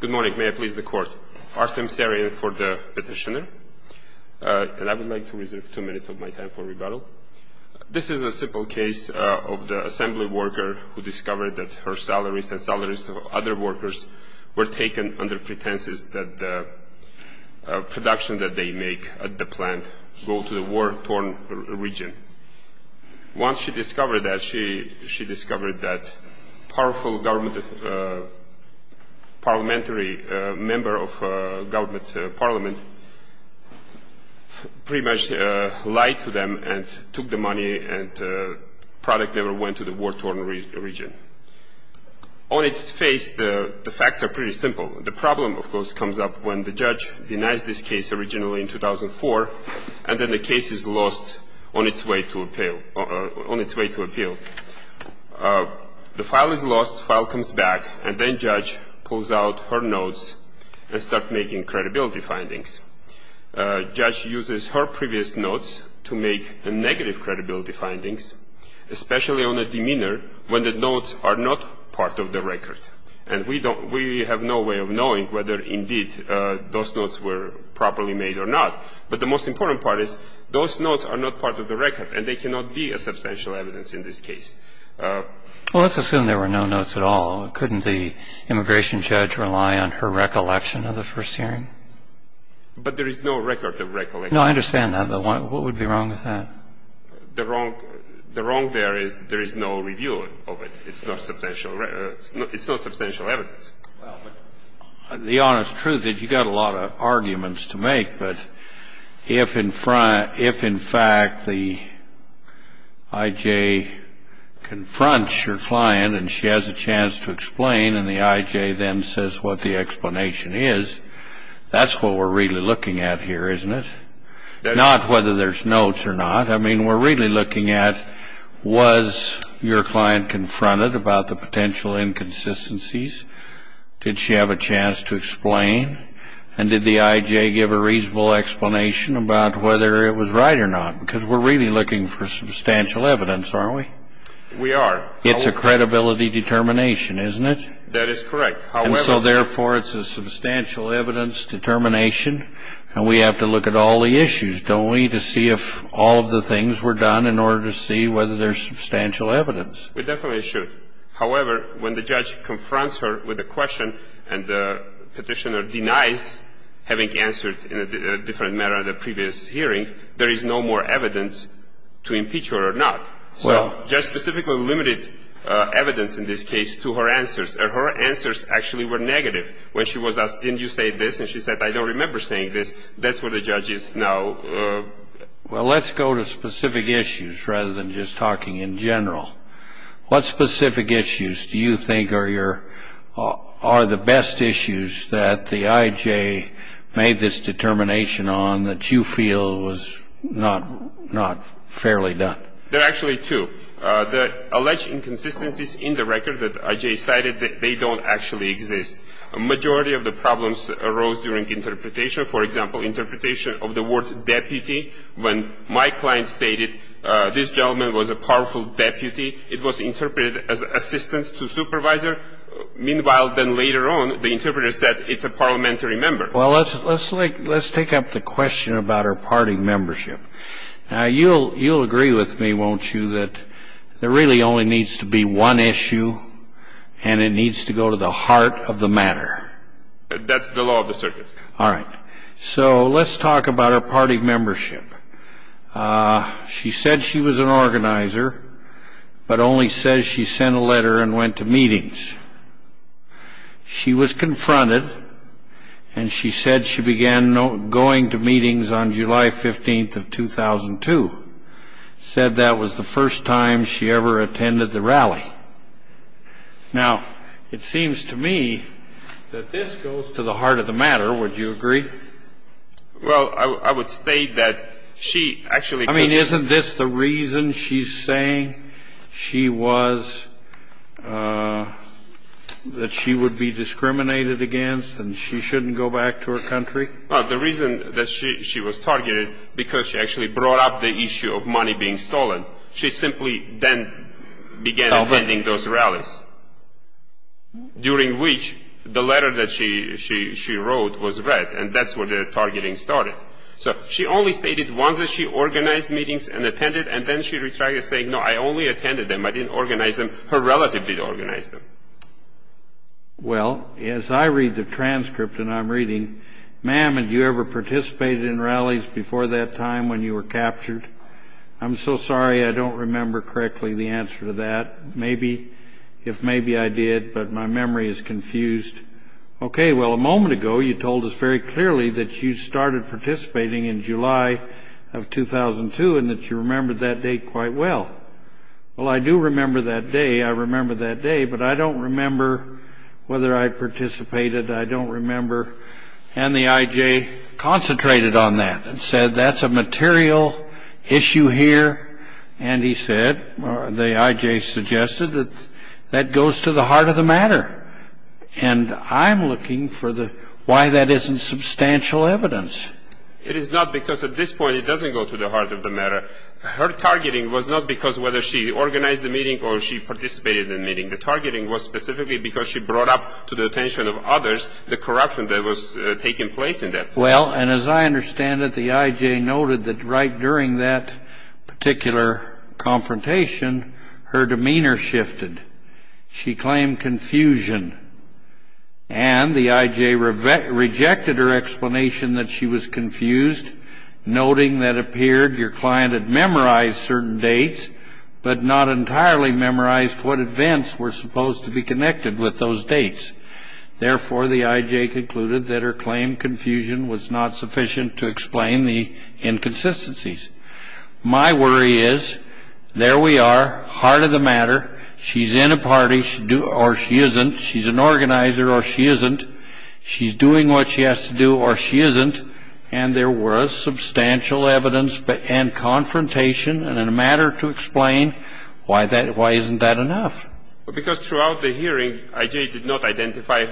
Good morning. May I please the court? Artem Saryan for the petitioner. And I would like to reserve two minutes of my time for rebuttal. This is a simple case of the assembly worker who discovered that her salaries and salaries of other workers were taken under pretenses that the production that they make at the plant go to the war-torn region. Once she discovered that, she discovered that powerful parliamentary member of government parliament pretty much lied to them and took the money and product never went to the war-torn region. On its face, the facts are pretty simple. The problem, of course, comes up when the judge denies this case originally in 2004 and then the case is lost on its way to appeal. The file is lost, the file comes back, and then judge pulls out her notes and starts making credibility findings. Judge uses her previous notes to make negative credibility findings, especially on a demeanor when the notes are not part of the record. And we have no way of knowing whether, indeed, those notes were properly made or not. But the most important part is those notes are not part of the record and they cannot be a substantial evidence in this case. Well, let's assume there were no notes at all. Couldn't the immigration judge rely on her recollection of the first hearing? But there is no record of recollection. No, I understand that. But what would be wrong with that? The wrong there is there is no review of it. It's not substantial evidence. Well, the honest truth is you've got a lot of arguments to make. But if, in fact, the I.J. confronts your client and she has a chance to explain and the I.J. then says what the explanation is, that's what we're really looking at here, isn't it? Not whether there's notes or not. I mean, we're really looking at was your client confronted about the potential inconsistencies? Did she have a chance to explain? And did the I.J. give a reasonable explanation about whether it was right or not? Because we're really looking for substantial evidence, aren't we? We are. It's a credibility determination, isn't it? That is correct. And so, therefore, it's a substantial evidence determination, and we have to look at all the issues, don't we, to see if all of the things were done in order to see whether there's substantial evidence. We definitely should. However, when the judge confronts her with a question and the Petitioner denies having answered in a different manner at a previous hearing, there is no more evidence to impeach her or not. Well. So just specifically limited evidence in this case to her answers. And her answers actually were negative. When she was asked, didn't you say this? And she said, I don't remember saying this. That's what the judge is now. Well, let's go to specific issues rather than just talking in general. What specific issues do you think are your or the best issues that the I.J. made this determination on that you feel was not fairly done? There are actually two. The alleged inconsistencies in the record that I.J. cited, they don't actually exist. A majority of the problems arose during interpretation. For example, interpretation of the word deputy. When my client stated this gentleman was a powerful deputy, it was interpreted as assistant to supervisor. Meanwhile, then later on, the interpreter said it's a parliamentary member. Well, let's take up the question about her party membership. Now, you'll agree with me, won't you, that there really only needs to be one issue and it needs to go to the heart of the matter? That's the law of the circuit. All right. So let's talk about her party membership. She said she was an organizer, but only says she sent a letter and went to meetings. She was confronted, and she said she began going to meetings on July 15th of 2002. Said that was the first time she ever attended the rally. Now, it seems to me that this goes to the heart of the matter. Would you agree? Well, I would state that she actually couldn't. I mean, isn't this the reason she's saying she was, that she would be discriminated against and she shouldn't go back to her country? Well, the reason that she was targeted, because she actually brought up the issue of money being stolen. She simply then began attending those rallies, during which the letter that she wrote was read, and that's where the targeting started. So she only stated once that she organized meetings and attended, and then she retracted, saying, no, I only attended them. I didn't organize them. Her relative did organize them. Well, as I read the transcript and I'm reading, ma'am, had you ever participated in rallies before that time when you were captured? I'm so sorry, I don't remember correctly the answer to that. Maybe, if maybe I did, but my memory is confused. Okay, well, a moment ago you told us very clearly that you started participating in July of 2002 and that you remembered that date quite well. Well, I do remember that day. I remember that day, but I don't remember whether I participated. I don't remember, and the I.J. concentrated on that and said, that's a material issue here, and he said, the I.J. suggested that that goes to the heart of the matter, and I'm looking for why that isn't substantial evidence. It is not because at this point it doesn't go to the heart of the matter. Her targeting was not because whether she organized the meeting or she participated in the meeting. The targeting was specifically because she brought up to the attention of others the corruption that was taking place in that. Well, and as I understand it, the I.J. noted that right during that particular confrontation, her demeanor shifted. She claimed confusion, and the I.J. rejected her explanation that she was confused, noting that it appeared your client had memorized certain dates, but not entirely memorized what events were supposed to be connected with those dates. Therefore, the I.J. concluded that her claimed confusion was not sufficient to explain the inconsistencies. My worry is there we are, heart of the matter. She's in a party, or she isn't. She's an organizer, or she isn't. She's doing what she has to do, or she isn't, and there was substantial evidence and confrontation in a matter to explain why isn't that enough. Well, because throughout the hearing, I.J. did not identify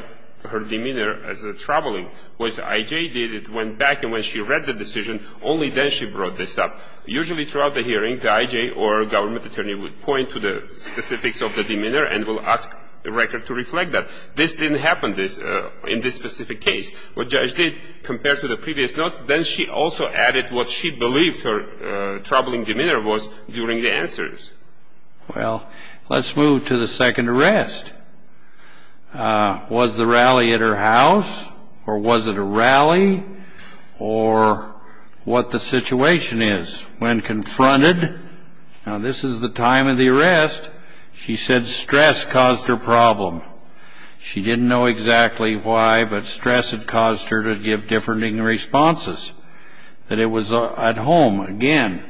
her demeanor as troubling. What the I.J. did, it went back, and when she read the decision, only then she brought this up. Usually throughout the hearing, the I.J. or government attorney would point to the specifics of the demeanor and will ask the record to reflect that. This didn't happen in this specific case. What the I.J. did, compared to the previous notes, then she also added what she believed her troubling demeanor was during the answers. Well, let's move to the second arrest. Was the rally at her house, or was it a rally, or what the situation is when confronted? Now, this is the time of the arrest. She said stress caused her problem. She didn't know exactly why, but stress had caused her to give differing responses, that it was at home. Again,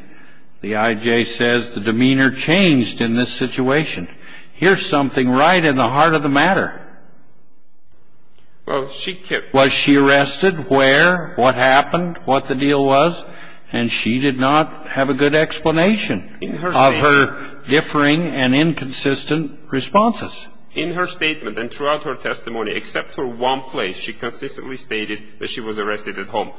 the I.J. says the demeanor changed in this situation. Here's something right in the heart of the matter. Was she arrested? Where? What happened? What the deal was? And she did not have a good explanation of her differing and inconsistent responses. In her statement and throughout her testimony, except for one place, she consistently stated that she was arrested at home.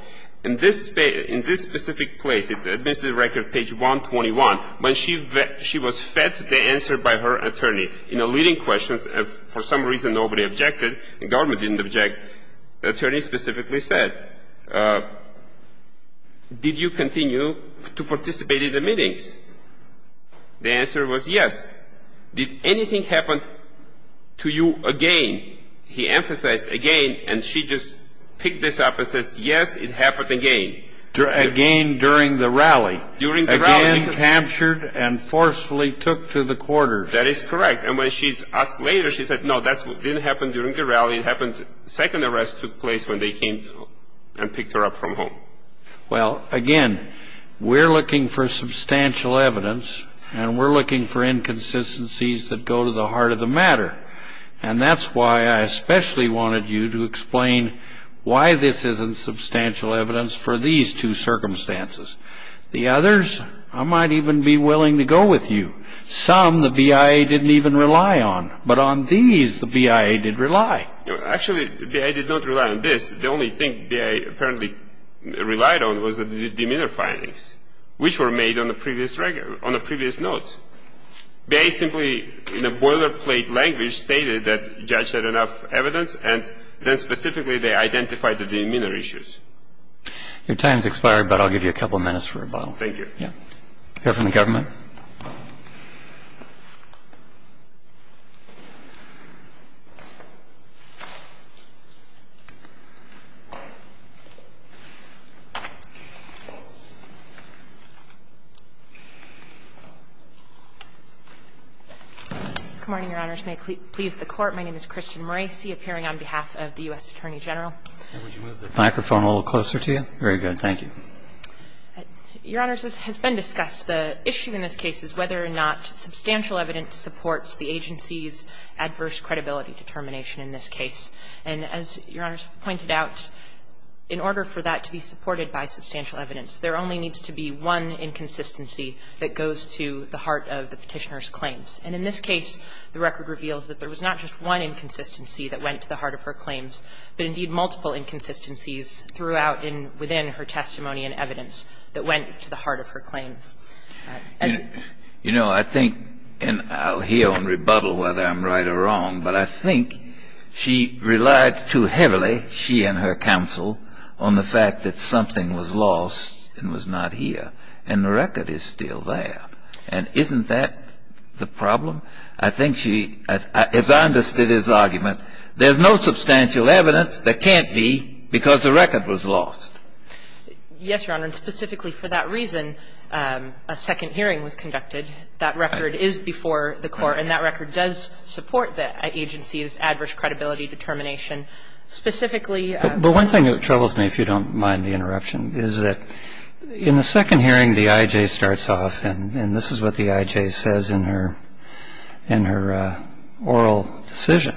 In this specific place, it's administrative record page 121, when she was fed the answer by her attorney. In the leading questions, for some reason nobody objected, the government didn't object, the attorney specifically said, did you continue to participate in the meetings? The answer was yes. Did anything happen to you again? He emphasized again, and she just picked this up and says, yes, it happened again. Again during the rally. During the rally. Again captured and forcefully took to the quarters. That is correct. And when she's asked later, she said, no, that didn't happen during the rally. It happened, second arrest took place when they came and picked her up from home. Well, again, we're looking for substantial evidence, and we're looking for inconsistencies that go to the heart of the matter. And that's why I especially wanted you to explain why this isn't substantial evidence for these two circumstances. The others, I might even be willing to go with you. Some the BIA didn't even rely on. But on these, the BIA did rely. Actually, the BIA did not rely on this. The only thing BIA apparently relied on was the demeanor findings, which were made on the previous notes. BIA simply, in a boilerplate language, stated that the judge had enough evidence, and then specifically they identified the demeanor issues. Your time has expired, but I'll give you a couple minutes for rebuttal. Thank you. Here from the government. Good morning, Your Honors. May it please the Court, my name is Christian Morisi, appearing on behalf of the U.S. Attorney General. And would you move the microphone a little closer to you? Very good, thank you. Your Honors, this has been discussed. The issue in this case is whether or not substantial evidence supports the agency's adverse credibility determination in this case. And as Your Honors have pointed out, in order for that to be supported by substantial evidence, there only needs to be one inconsistency that goes to the heart of the petitioner's claims. And in this case, the record reveals that there was not just one inconsistency that went to the heart of her claims, but indeed multiple inconsistencies throughout and within her testimony and evidence that went to the heart of her claims. You know, I think, and I'll hear and rebuttal whether I'm right or wrong, but I think she relied too heavily, she and her counsel, on the fact that something was lost and was not here. And the record is still there. And isn't that the problem? I think she, as I understood his argument, there's no substantial evidence that can't be because the record was lost. Yes, Your Honor. And specifically for that reason, a second hearing was conducted. That record is before the Court. And that record does support the agency's adverse credibility determination. Specifically ---- But one thing that troubles me, if you don't mind the interruption, is that in the second hearing, the I.J. starts off, and this is what the I.J. says in her oral decision.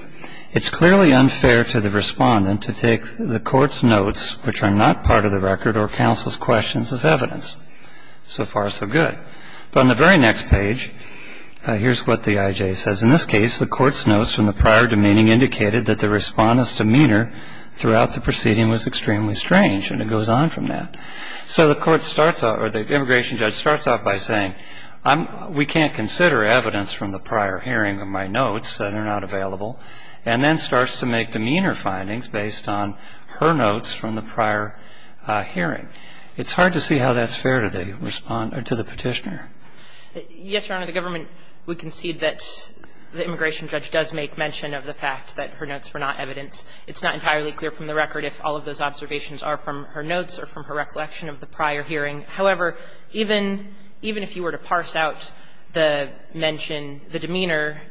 It's clearly unfair to the respondent to take the Court's notes, which are not part of the record or counsel's questions, as evidence. So far, so good. But on the very next page, here's what the I.J. says. In this case, the Court's notes from the prior demeaning indicated that the respondent's demeanor throughout the proceeding was extremely strange. And it goes on from that. So the Court starts out, or the immigration judge starts out by saying, we can't consider evidence from the prior hearing of my notes, they're not available, and then starts to make demeanor findings based on her notes from the prior hearing. It's hard to see how that's fair to the respondent, to the Petitioner. Yes, Your Honor. The government would concede that the immigration judge does make mention of the fact that her notes were not evidence. It's not entirely clear from the record if all of those observations are from her notes or from her recollection of the prior hearing. However, even if you were to parse out the mention, the demeanor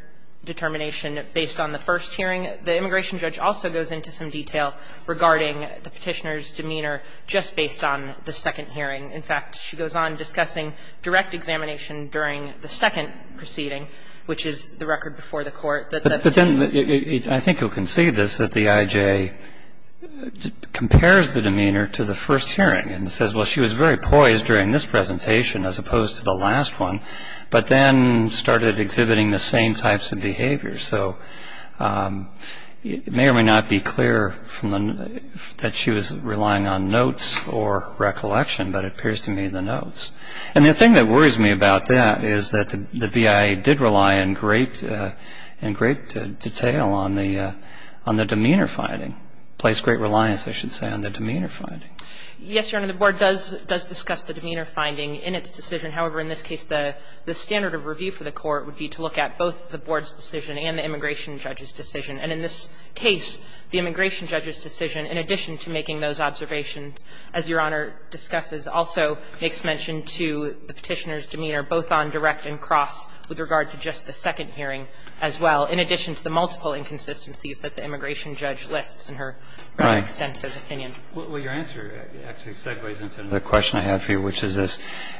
determination based on the first hearing, the immigration judge also goes into some detail regarding the Petitioner's demeanor just based on the second hearing. In fact, she goes on discussing direct examination during the second proceeding, which is the record before the Court. But then I think you'll concede this, that the IJ compares the demeanor to the first hearing and says, well, she was very poised during this presentation as opposed to the last one, but then started exhibiting the same types of behavior. So it may or may not be clear that she was relying on notes or recollection, but it appears to me the notes. And the thing that worries me about that is that the BIA did rely in great detail on the demeanor finding, place great reliance, I should say, on the demeanor finding. Yes, Your Honor. The Board does discuss the demeanor finding in its decision. However, in this case, the standard of review for the Court would be to look at both the Board's decision and the immigration judge's decision. And in this case, the immigration judge's decision, in addition to making those in addition to the petitioner's demeanor, both on direct and cross with regard to just the second hearing as well, in addition to the multiple inconsistencies that the immigration judge lists in her extensive opinion. Right. Well, your answer actually segues into the question I have here, which is this.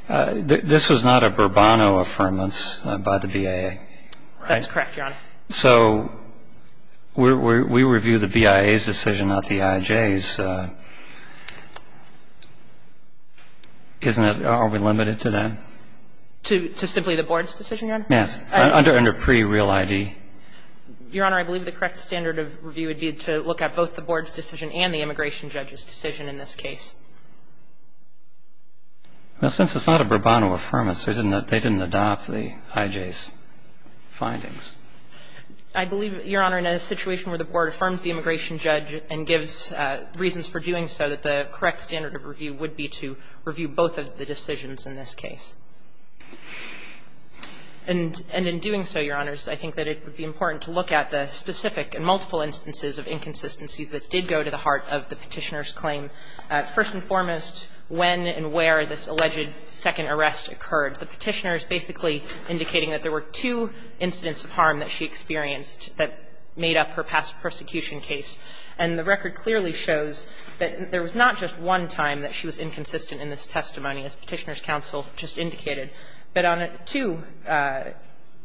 This was not a Burbano affirmance by the BIA, right? That's correct, Your Honor. So we review the BIA's decision, not the IJ's. But isn't it, are we limited to that? To simply the Board's decision, Your Honor? Yes. Under pre-real ID. Your Honor, I believe the correct standard of review would be to look at both the Board's decision and the immigration judge's decision in this case. Well, since it's not a Burbano affirmance, they didn't adopt the IJ's findings. I believe, Your Honor, in a situation where the Board affirms the immigration judge and gives reasons for doing so, that the correct standard of review would be to review both of the decisions in this case. And in doing so, Your Honors, I think that it would be important to look at the specific and multiple instances of inconsistencies that did go to the heart of the Petitioner's claim, first and foremost, when and where this alleged second arrest occurred. The Petitioner is basically indicating that there were two incidents of harm that she experienced that made up her past persecution case, and the record clearly shows that there was not just one time that she was inconsistent in this testimony, as Petitioner's counsel just indicated, but on two,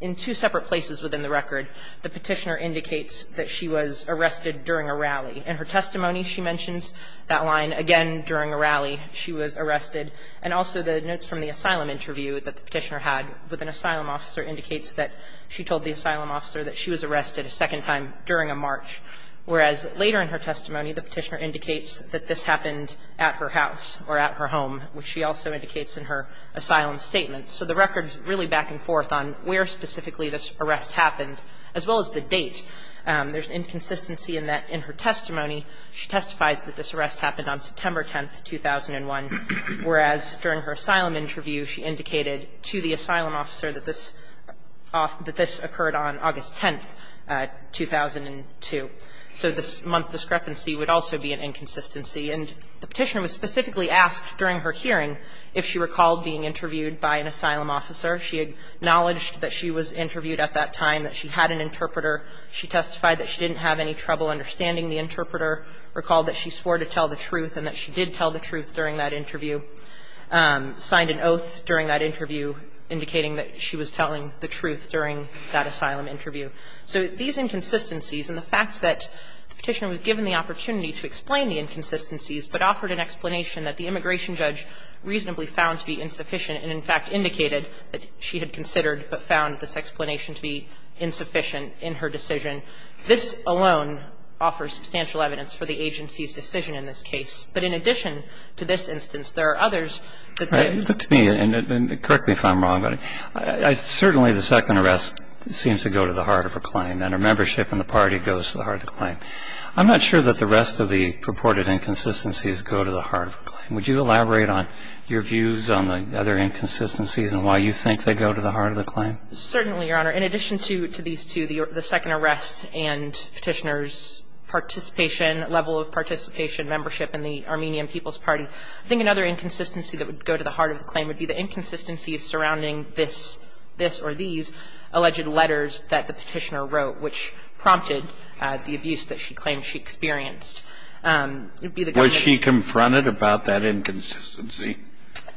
in two separate places within the record, the Petitioner indicates that she was arrested during a rally. In her testimony, she mentions that line, again, during a rally, she was arrested. And also the notes from the asylum interview that the Petitioner had with an asylum officer indicates that she told the asylum officer that she was arrested a second time during a march, whereas later in her testimony, the Petitioner indicates that this happened at her house or at her home, which she also indicates in her asylum statement. So the record is really back and forth on where specifically this arrest happened, as well as the date. There's inconsistency in that, in her testimony, she testifies that this arrest happened on September 10th, 2001, whereas during her asylum interview, she indicated to the asylum officer that this occurred on August 10th, 2002. So this month discrepancy would also be an inconsistency. And the Petitioner was specifically asked during her hearing if she recalled being interviewed by an asylum officer. She acknowledged that she was interviewed at that time, that she had an interpreter. She testified that she didn't have any trouble understanding the interpreter, recalled that she swore to tell the truth and that she did tell the truth during that interview, signed an oath during that interview indicating that she was telling the truth during that asylum interview. So these inconsistencies and the fact that the Petitioner was given the opportunity to explain the inconsistencies but offered an explanation that the immigration judge reasonably found to be insufficient and, in fact, indicated that she had considered but found this explanation to be insufficient in her decision, this alone offers substantial evidence for the agency's decision in this case. But in addition to this instance, there are others that there are. And correct me if I'm wrong, but certainly the second arrest seems to go to the heart of her claim and her membership in the party goes to the heart of the claim. I'm not sure that the rest of the purported inconsistencies go to the heart of the claim. Would you elaborate on your views on the other inconsistencies and why you think they go to the heart of the claim? Certainly, Your Honor. In addition to these two, the second arrest and Petitioner's participation, level of participation, membership in the Armenian People's Party, I think another inconsistency that would go to the heart of the claim would be the inconsistencies surrounding this or these alleged letters that the Petitioner wrote, which prompted the abuse that she claimed she experienced. It would be the government's ---- Was she confronted about that inconsistency?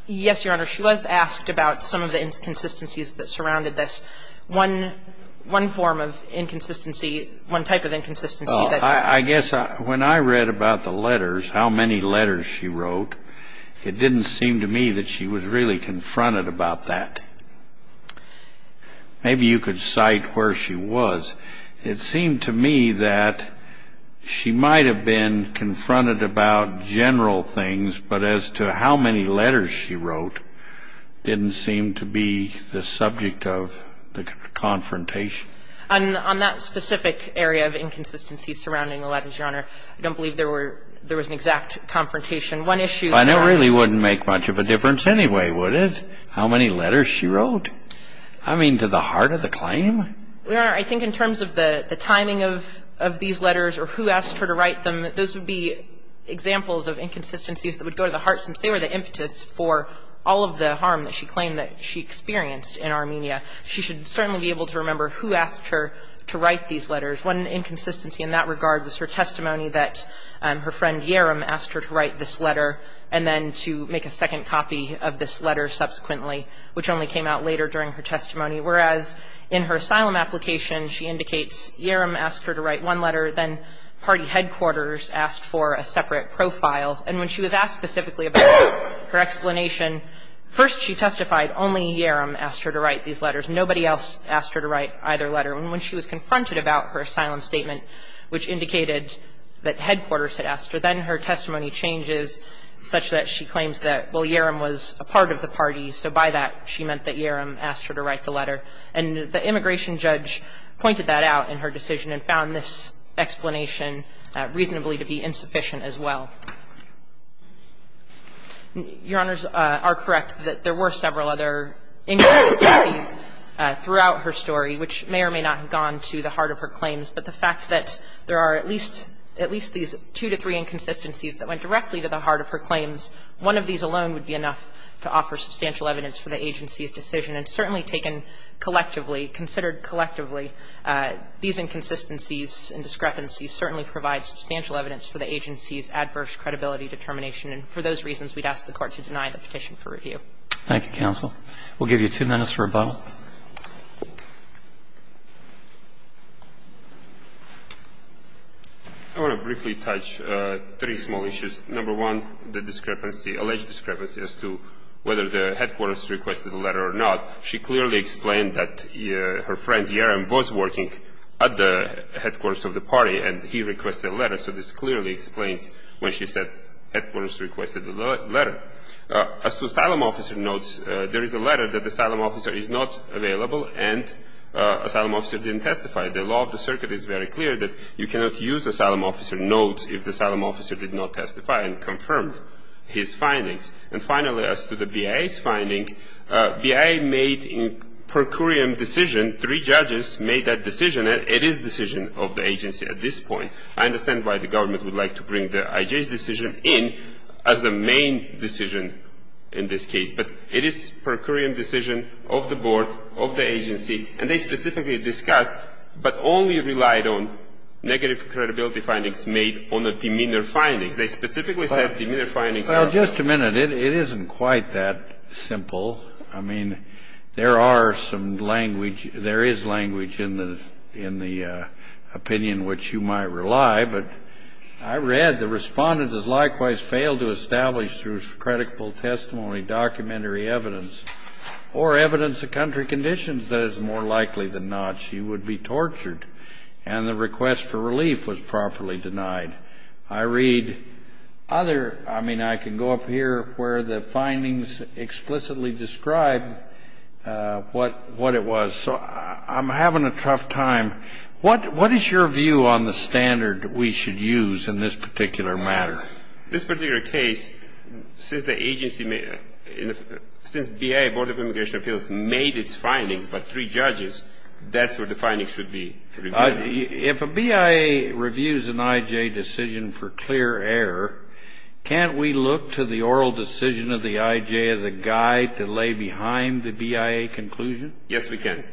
Yes, Your Honor. She was asked about some of the inconsistencies that surrounded this. One form of inconsistency, one type of inconsistency that ---- I guess when I read about the letters, how many letters she wrote, it didn't seem to me that she was really confronted about that. Maybe you could cite where she was. It seemed to me that she might have been confronted about general things, but as to how many letters she wrote didn't seem to be the subject of the confrontation. On that specific area of inconsistency surrounding the letters, Your Honor, I don't believe there were ---- there was an exact confrontation. One issue said ---- But that really wouldn't make much of a difference anyway, would it, how many letters she wrote? I mean, to the heart of the claim? Your Honor, I think in terms of the timing of these letters or who asked her to write them, those would be examples of inconsistencies that would go to the heart since they were the impetus for all of the harm that she claimed that she experienced in Armenia. She should certainly be able to remember who asked her to write these letters. One inconsistency in that regard was her testimony that her friend Yerim asked her to write this letter and then to make a second copy of this letter subsequently, which only came out later during her testimony, whereas in her asylum application she indicates Yerim asked her to write one letter, then party headquarters asked for a separate profile. And when she was asked specifically about her explanation, first she testified only Yerim asked her to write these letters. Nobody else asked her to write either letter. And when she was confronted about her asylum statement, which indicated that headquarters had asked her, then her testimony changes such that she claims that, well, Yerim was a part of the party, so by that she meant that Yerim asked her to write the letter. And the immigration judge pointed that out in her decision and found this explanation reasonably to be insufficient as well. Your Honors are correct that there were several other inconsistencies throughout her story, which may or may not have gone to the heart of her claims, but the fact that there are at least these two to three inconsistencies that went directly to the heart of her claims, one of these alone would be enough to offer substantial evidence for the agency's decision. And certainly taken collectively, considered collectively, these inconsistencies and discrepancies certainly provide substantial evidence for the agency's adverse credibility determination. And for those reasons, we'd ask the Court to deny the petition for review. Roberts. Thank you, counsel. We'll give you two minutes for rebuttal. I want to briefly touch three small issues. Number one, the discrepancy, alleged discrepancy as to whether the headquarters requested the letter or not. She clearly explained that her friend Yerim was working at the headquarters of the party and he requested a letter. So this clearly explains when she said headquarters requested a letter. As to asylum officer notes, there is a letter that the asylum officer is not available and asylum officer didn't testify. The law of the circuit is very clear that you cannot use asylum officer notes if the asylum officer did not testify and confirm his findings. And finally, as to the BIA's finding, BIA made in per curiam decision, three judges made that decision. It is decision of the agency at this point. I understand why the government would like to bring the IJ's decision in as the main decision in this case. But it is per curiam decision of the board, of the agency, and they specifically discussed but only relied on negative credibility findings made on the demeanor findings. They specifically said demeanor findings. Well, just a minute. It isn't quite that simple. I mean, there are some language, there is language in the opinion which you might rely, but I read the respondent has likewise failed to establish through credible testimony, documentary evidence, or evidence of country conditions that is more likely than not she would be tortured and the request for relief was properly denied. I read other, I mean, I can go up here where the findings explicitly describe what it was. So I'm having a tough time. What is your view on the standard we should use in this particular matter? This particular case, since the agency, since BIA, Board of Immigration Appeals, made its findings, but three judges, that's where the findings should be reviewed. If a BIA reviews an IJ decision for clear error, can't we look to the oral decision of the IJ as a guide to lay behind the BIA conclusion? Yes, we can.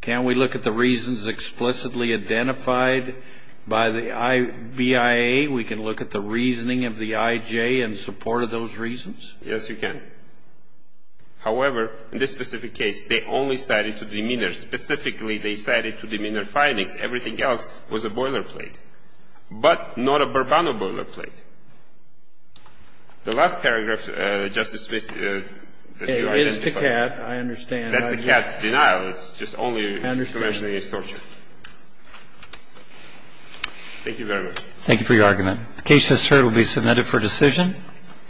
Can we look at the reasons explicitly identified by the BIA? We can look at the reasoning of the IJ in support of those reasons? Yes, we can. However, in this specific case, they only cited to demeanor. Specifically, they cited to demeanor findings. Everything else was a boilerplate, but not a Bourbon or boilerplate. The last paragraph, Justice Smith, that you identified. It is to CAT. I understand. That's a CAT denial. It's just only information against torture. I understand. Thank you very much. Thank you for your argument. The case, as heard, will be submitted for decision.